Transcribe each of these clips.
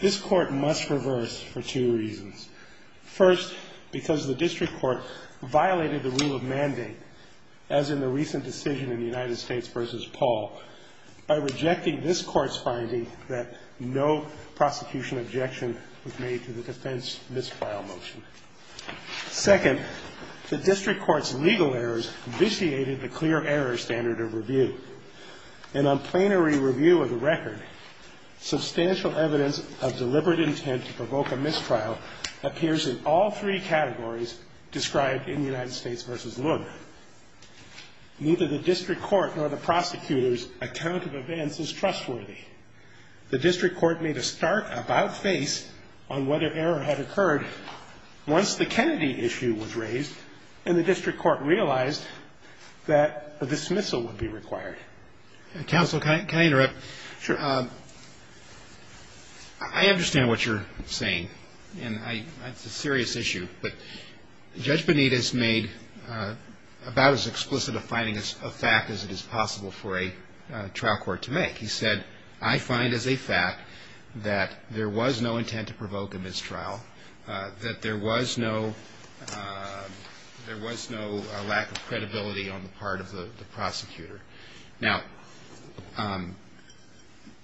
This Court must reverse for two reasons. First, because the District Court violated the rule of mandate, as in the recent decision in United States v. Paul, by rejecting this Court's finding that no prosecution objection was made to the defense misfile motion. Second, the District Court's legal errors vitiated the clear error standard of review. And on plenary review of the record, substantial evidence of deliberate intent to provoke a mistrial appears in all three categories described in United States v. Lund. Therefore, neither the District Court nor the prosecutor's account of events is trustworthy. The District Court made a stark about-face on whether error had occurred once the Kennedy issue was raised and the District Court realized that a dismissal would be required. Justice Breyer. Counsel, can I interrupt? I understand what you're saying, and it's a serious issue, but Judge Benitez made about as explicit a finding of fact as it is possible for a trial court to make. He said, I find as a fact that there was no intent to provoke a mistrial, that there was no lack of credibility on the part of the prosecutor. Now,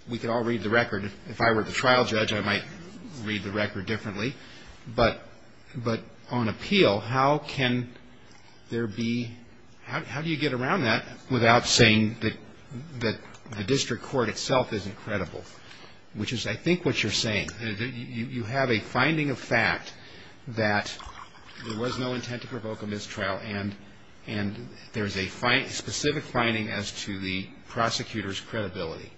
we could all read the record. If I were the trial judge, I might read the record differently. But on appeal, how can there be – how do you get around that without saying that the District Court itself isn't credible, which is, I think, what you're saying. You have a finding of fact that there was no intent to provoke a mistrial, and there's a specific finding as to the prosecutor's credibility.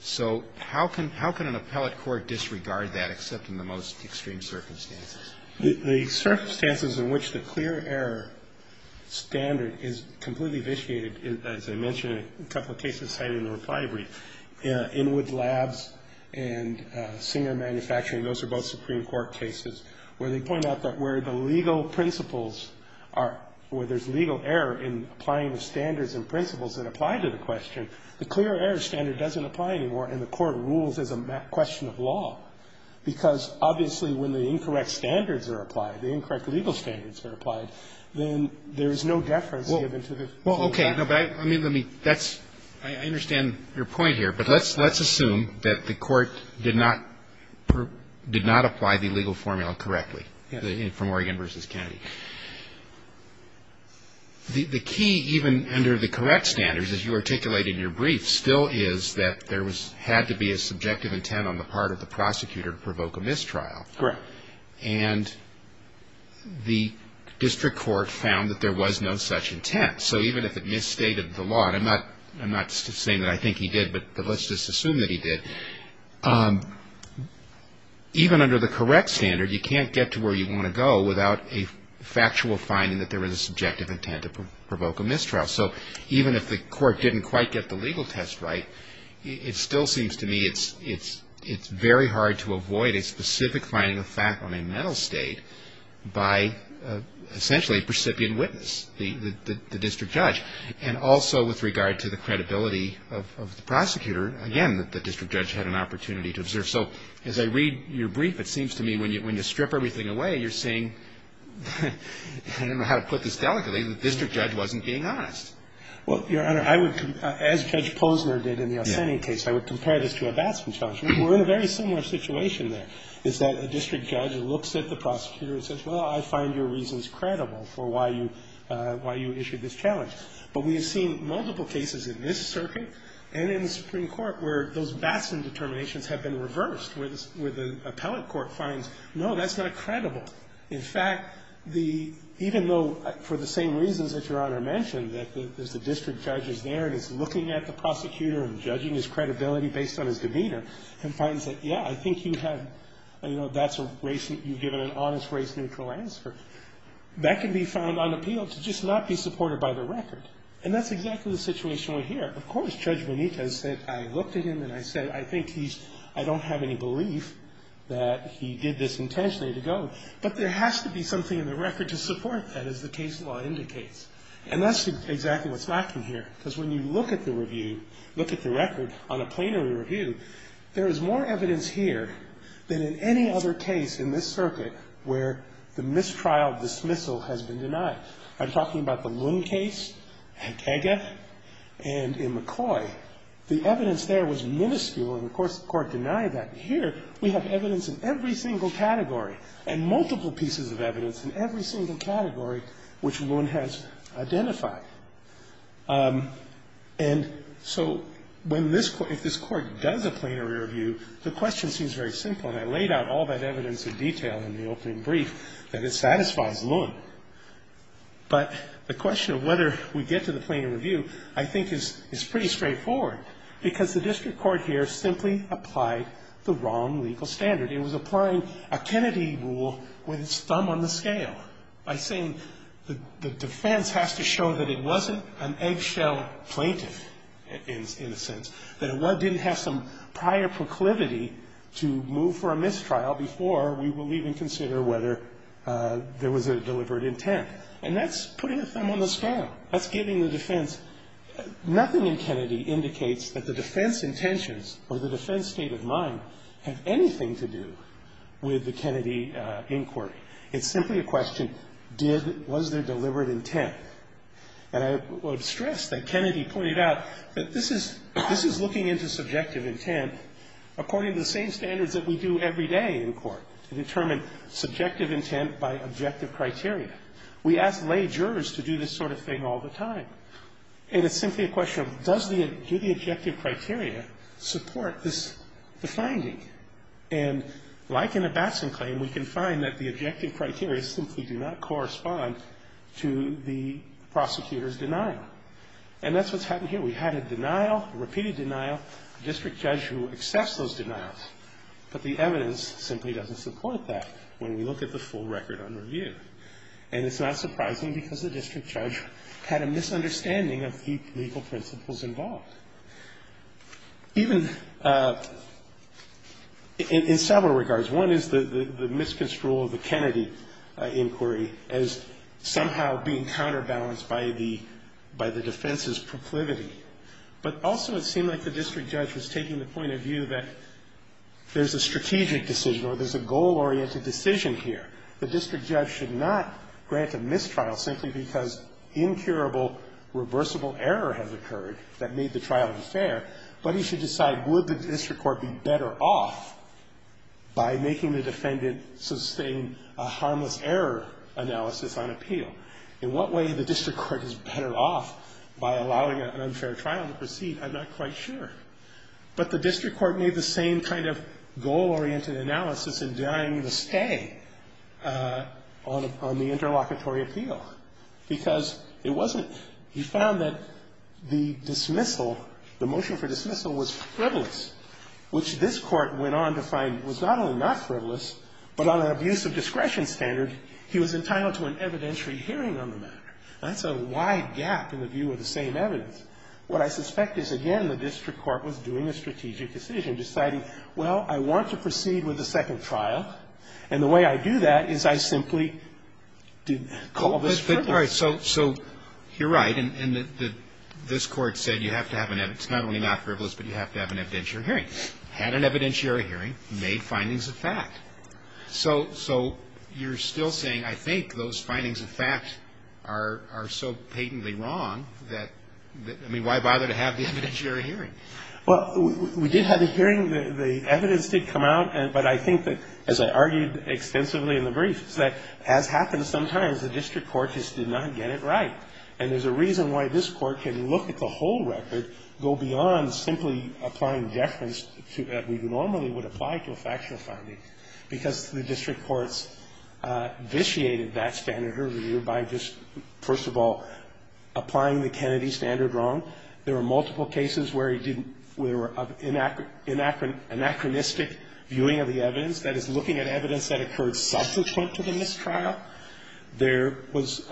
So how can an appellate court disregard that except in the most extreme circumstances? The circumstances in which the clear error standard is completely vitiated, as I mentioned in a couple of cases cited in the reply brief, Inwood Labs and Singer Manufacturing, those are both Supreme Court cases, where they point out that where the legal principles are – where there's legal error in applying the standards and principles that apply to the question, the clear error standard doesn't apply anymore and the court rules as a question of law. Because, obviously, when the incorrect standards are applied, the incorrect legal standards are applied, then there is no deference given to the – Well, okay. I mean, let me – that's – I understand your point here, but let's assume that the court did not – did not apply the legal formula correctly from Oregon v. Kennedy. The key, even under the correct standards, as you articulate in your brief, still is that there had to be a subjective intent on the part of the prosecutor to provoke a mistrial. Correct. And the district court found that there was no such intent. So even if it misstated the law – and I'm not saying that I think he did, but let's just assume that he did – even under the correct standard, you can't get to where you want to go without a factual finding that there was a subjective intent to provoke a mistrial. So even if the court didn't quite get the legal test right, it still seems to me it's very hard to avoid a specific finding of fact on a mental state by, essentially, a precipient witness, the district judge. And also with regard to the credibility of the prosecutor, again, the district judge had an opportunity to observe. So as I read your brief, it seems to me when you strip everything away, you're saying, I don't know how to put this delicately, the district judge wasn't being honest. Well, Your Honor, I would – as Judge Posner did in the Ascending case, I would compare this to a Batson challenge. We're in a very similar situation there, is that a district judge looks at the prosecutor and says, well, I find your reasons credible for why you issued this challenge. But we have seen multiple cases in this circuit and in the Supreme Court where those Batson determinations have been reversed, where the appellate court finds, no, that's not credible. In fact, the – even though for the same reasons that Your Honor mentioned, that the district judge is there and is looking at the prosecutor and judging his credibility based on his demeanor, and finds that, yeah, I think you have – you know, that's a race – you've given an honest race neutral answer. That can be found unappealed to just not be supported by the record. And that's exactly the situation we're here. Of course, Judge Bonita has said, I looked at him and I said, I think he's – I don't have any belief that he did this intentionally to go. But there has to be something in the record to support that, as the case law indicates. And that's exactly what's lacking here. Because when you look at the review, look at the record on a plenary review, there is more evidence here than in any other case in this circuit where the mistrial dismissal has been denied. I'm talking about the Loon case, Hedega, and in McCoy. The evidence there was minuscule, and of course the Court denied that. And here we have evidence in every single category and multiple pieces of evidence in every single category which Loon has identified. And so when this – if this Court does a plenary review, the question seems very simple. And I laid out all that evidence in detail in the opening brief that it satisfies Loon. But the question of whether we get to the plenary review, I think, is pretty straightforward. Because the district court here simply applied the wrong legal standard. It was applying a Kennedy rule with its thumb on the scale by saying the defense has to show that it wasn't an eggshell plaintiff, in a sense. That it didn't have some prior proclivity to move for a mistrial before we will even consider whether there was a delivered intent. And that's putting a thumb on the scale. That's giving the defense – nothing in Kennedy indicates that the defense intentions or the defense state of mind have anything to do with the Kennedy inquiry. It's simply a question, did – was there delivered intent? And I would stress that Kennedy pointed out that this is – this is looking into subjective intent according to the same standards that we do every day in court, to determine subjective intent by objective criteria. We ask lay jurors to do this sort of thing all the time. And it's simply a question of does the – do the objective criteria support this – the finding? And like in a Batson claim, we can find that the objective criteria simply do not correspond to the prosecutor's denial. And that's what's happened here. We had a denial, a repeated denial, a district judge who accepts those denials. But the evidence simply doesn't support that when we look at the full record on review. And it's not surprising because the district judge had a misunderstanding of the legal principles involved. Even in several regards, one is the misconstrual of the Kennedy inquiry as somehow being counterbalanced by the defense's proclivity. But also it seemed like the district judge was taking the point of view that there's a strategic decision or there's a goal-oriented decision here. The district judge should not grant a mistrial simply because incurable, reversible error has occurred that made the trial unfair. But he should decide would the district court be better off by making the defendant sustain a harmless error analysis on appeal. In what way the district court is better off by allowing an unfair trial to proceed, I'm not quite sure. But the district court made the same kind of goal-oriented analysis in denying the stay on the interlocutory appeal. Because it wasn't he found that the dismissal, the motion for dismissal was frivolous, which this Court went on to find was not only not frivolous, but on an abuse of discretion standard, he was entitled to an evidentiary hearing on the matter. That's a wide gap in the view of the same evidence. What I suspect is, again, the district court was doing a strategic decision, deciding, well, I want to proceed with the second trial. And the way I do that is I simply call this frivolous. All right. So you're right. And this Court said you have to have an evidence. It's not only not frivolous, but you have to have an evidentiary hearing. Had an evidentiary hearing, made findings of fact. So you're still saying, I think those findings of fact are so patently wrong that, I mean, why bother to have the evidentiary hearing? Well, we did have a hearing. The evidence did come out. But I think that, as I argued extensively in the briefs, that has happened sometimes. The district court just did not get it right. And there's a reason why this Court can look at the whole record, go beyond simply applying deference to what we normally would apply to a factual finding, because the district courts vitiated that standard earlier by just, first of all, applying the Kennedy standard wrong. There were multiple cases where he didn't, where there were anachronistic viewing of the evidence, that is, looking at evidence that occurred subsequent to the mistrial. There was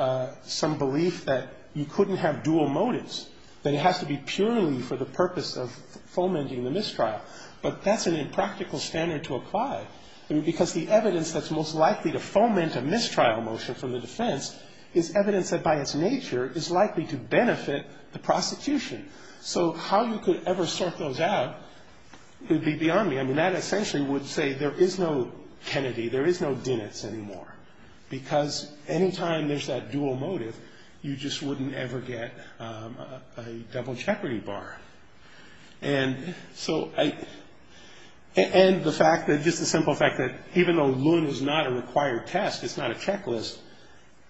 some belief that you couldn't have dual motives, that it has to be purely for the purpose of fomenting the mistrial. But that's an impractical standard to apply, because the evidence that's most likely to foment a mistrial motion from the defense is evidence that, by its nature, is likely to benefit the prosecution. So how you could ever sort those out would be beyond me. I mean, that essentially would say there is no Kennedy, there is no Diniz anymore, because any time there's that dual motive, you just wouldn't ever get a double jeopardy bar. And so I, and the fact that, just the simple fact that even though Loon is not a required test, it's not a checklist,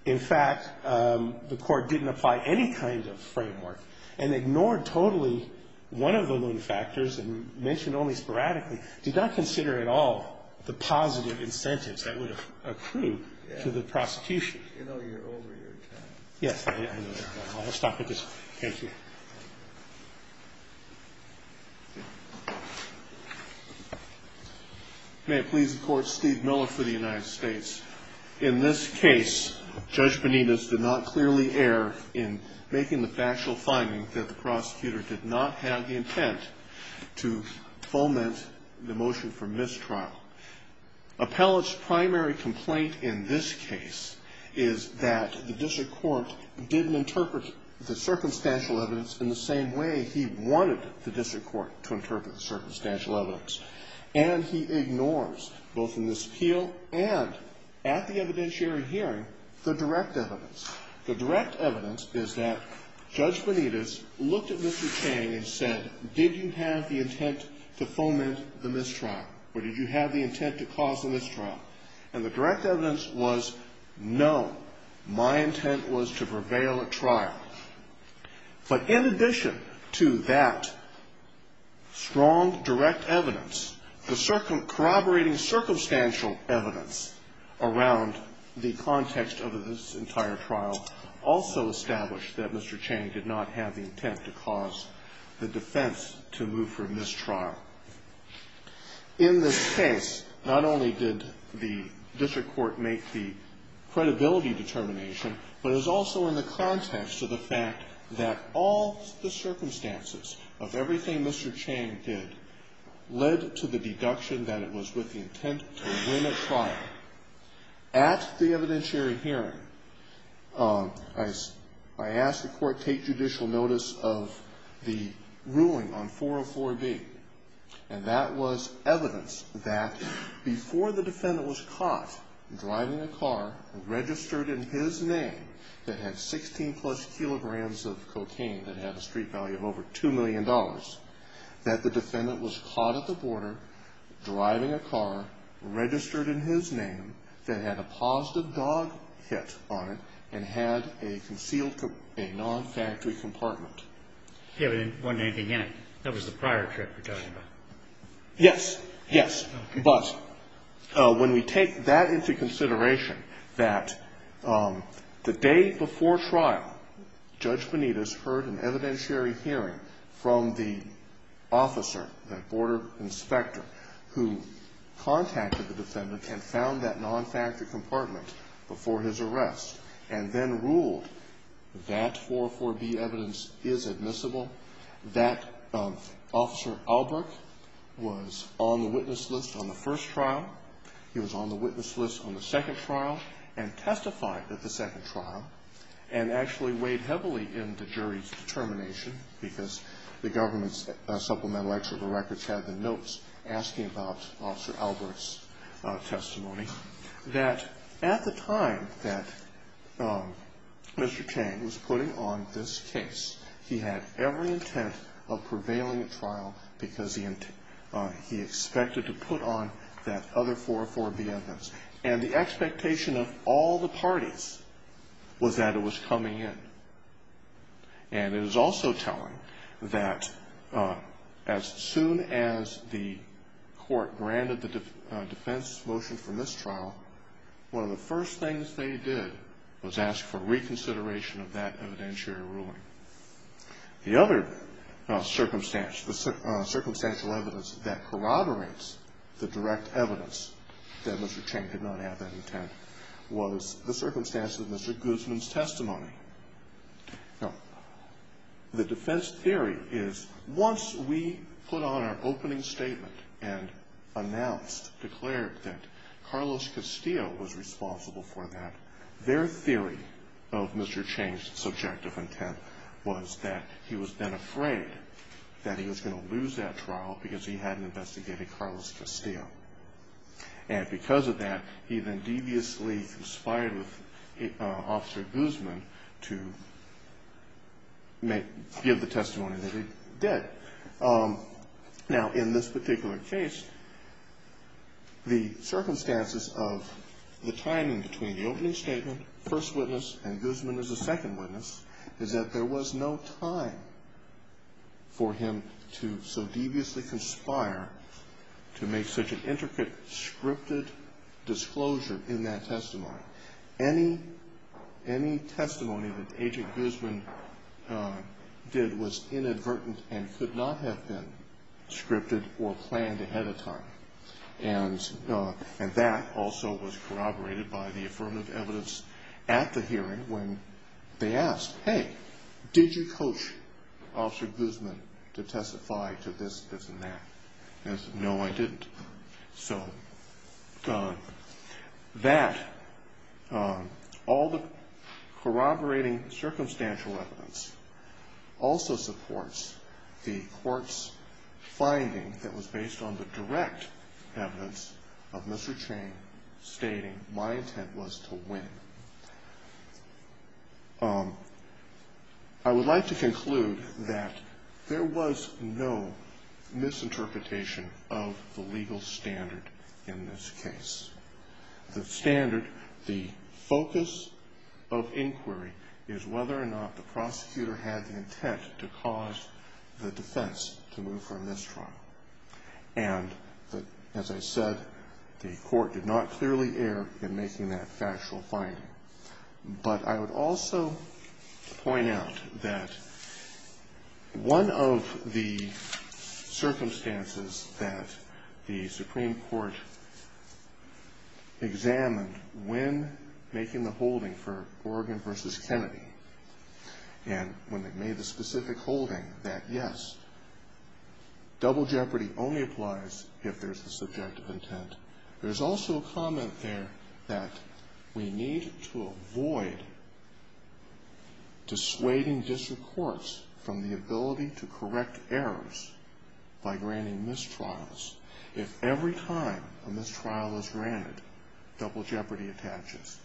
in fact, the Court didn't apply any kind of framework and ignored totally one of the Loon factors and mentioned only sporadically, did not consider at all the positive incentives that would accrue to the prosecution. Yes. I'll stop with this. Thank you. May it please the Court, Steve Miller for the United States. In this case, Judge Benitez did not clearly err in making the factual finding that the prosecutor did not have the intent to foment the motion for mistrial. Appellate's primary complaint in this case is that the district court didn't interpret the circumstantial evidence in the same way he wanted the district court to interpret the circumstantial evidence. And he ignores, both in this appeal and at the evidentiary hearing, the direct evidence. The direct evidence is that Judge Benitez looked at Mr. Chang and said, did you have the intent to foment the mistrial, or did you have the intent to cause the mistrial? And the direct evidence was no. My intent was to prevail at trial. But in addition to that strong direct evidence, the corroborating circumstantial evidence around the context of this entire trial also established that Mr. Chang did not have the intent to cause the defense to move for mistrial. In this case, not only did the district court make the credibility determination, but it was also in the context of the fact that all the circumstances of everything Mr. Chang did led to the deduction that it was with the intent to win at trial. At the evidentiary hearing, I asked the court to take judicial notice of the ruling on 404B, and that was evidence that before the defendant was caught driving a car registered in his name that had 16-plus kilograms of cocaine that had a street value of over $2 million, that the defendant was caught at the border driving a car registered in his name that had a positive dog hit on it and had a concealed, a non-factory compartment. The evidence wasn't anything in it. That was the prior trip we're talking about. Yes. Yes. But when we take that into consideration, that the day before trial, Judge Benitez heard an evidentiary hearing from the officer, that border inspector, who contacted the defendant and found that non-factory compartment before his arrest and then ruled that 404B evidence isn't in there. It's admissible that Officer Albrecht was on the witness list on the first trial. He was on the witness list on the second trial and testified at the second trial and actually weighed heavily in the jury's determination, because the government's supplemental executive records had the notes asking about Officer Albrecht's testimony, that at the time that Mr. Chang was putting on this case, he had every intent of prevailing at trial because he expected to put on that other 404B evidence. And the expectation of all the parties was that it was coming in. And it was also telling that as soon as the court granted the defense's motion for mistrial, one of the first things they did was ask for Mr. Chang's testimony. The other circumstantial evidence that corroborates the direct evidence that Mr. Chang did not have that intent was the circumstances of Mr. Guzman's testimony. Now, the defense theory is once we put on our opening statement and announced, declared that Carlos Castillo was responsible for that, their theory of Mr. Chang's subjective intent was that he was then afraid that he was going to lose that trial because he hadn't investigated Carlos Castillo. And because of that, he then deviously conspired with Officer Guzman to give the testimony that he did. Now, in this particular case, the circumstances of the timing between the opening statement, first witness, and Guzman as a second witness, is that there was no time for him to so deviously conspire to make such an intricate, scripted disclosure in that testimony. Any testimony that Agent Guzman did was inadvertent and could not have been scripted or planned ahead of time. And that also was corroborated by the affirmative evidence at the hearing when they asked, hey, did you coach Officer Guzman to testify to this, this, and that? And he said, no, I didn't. So that, all the corroborating circumstantial evidence also supports the court's finding that was based on the direct evidence of Mr. Chang stating my intent was to win. I would like to conclude that there was no misinterpretation of the legal standard in this case. The standard, the focus of inquiry, is whether or not the prosecutor had the intent to cause the defendant to move from this trial. And, as I said, the court did not clearly err in making that factual finding. But I would also point out that one of the circumstances that the Supreme Court examined when making the specific holding that, yes, double jeopardy only applies if there's a subjective intent, there's also a comment there that we need to avoid dissuading district courts from the ability to correct errors by granting mistrials. If every time a mistrial is granted, double jeopardy attaches.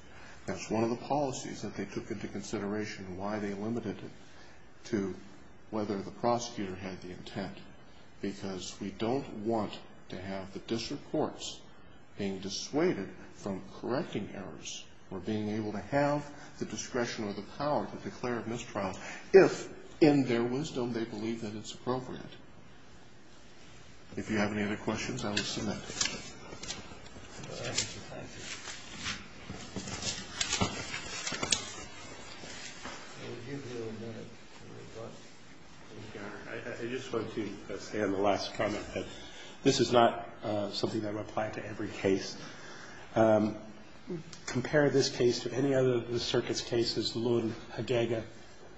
That's one of the policies that they took into consideration and why they limited it to whether the prosecutor had the intent. Because we don't want to have the district courts being dissuaded from correcting errors or being able to have the discretion or the power to declare a mistrial if, in their wisdom, they believe that it's appropriate. If you have any other questions, I will submit them. Thank you, Your Honor. I just want to say on the last comment that this is not something that would apply to every case. Compare this case to any other of the circuit's cases, Loon, Hagega,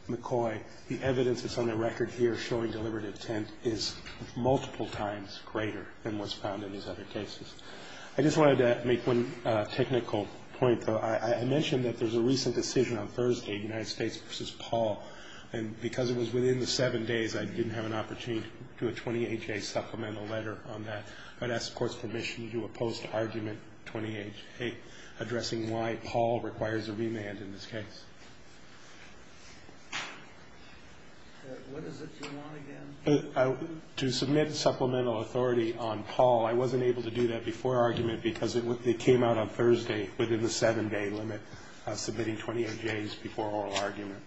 McCoy, the evidence that's on the record here showing deliberate intent is multiple times greater than what's found in these other cases. I just wanted to make one technical point, though. I mentioned that there's a recent decision on Thursday, United States v. Paul, and because it was within the seven days, I didn't have an opportunity to do a 20HA supplemental letter on that. I'd ask the Court's permission to oppose to argument 20HA addressing why Paul requires a remand in this case. What is it you want again? No, I don't want to oppose to argument 20HA before argument because it came out on Thursday within the seven-day limit of submitting 20HAs before oral argument.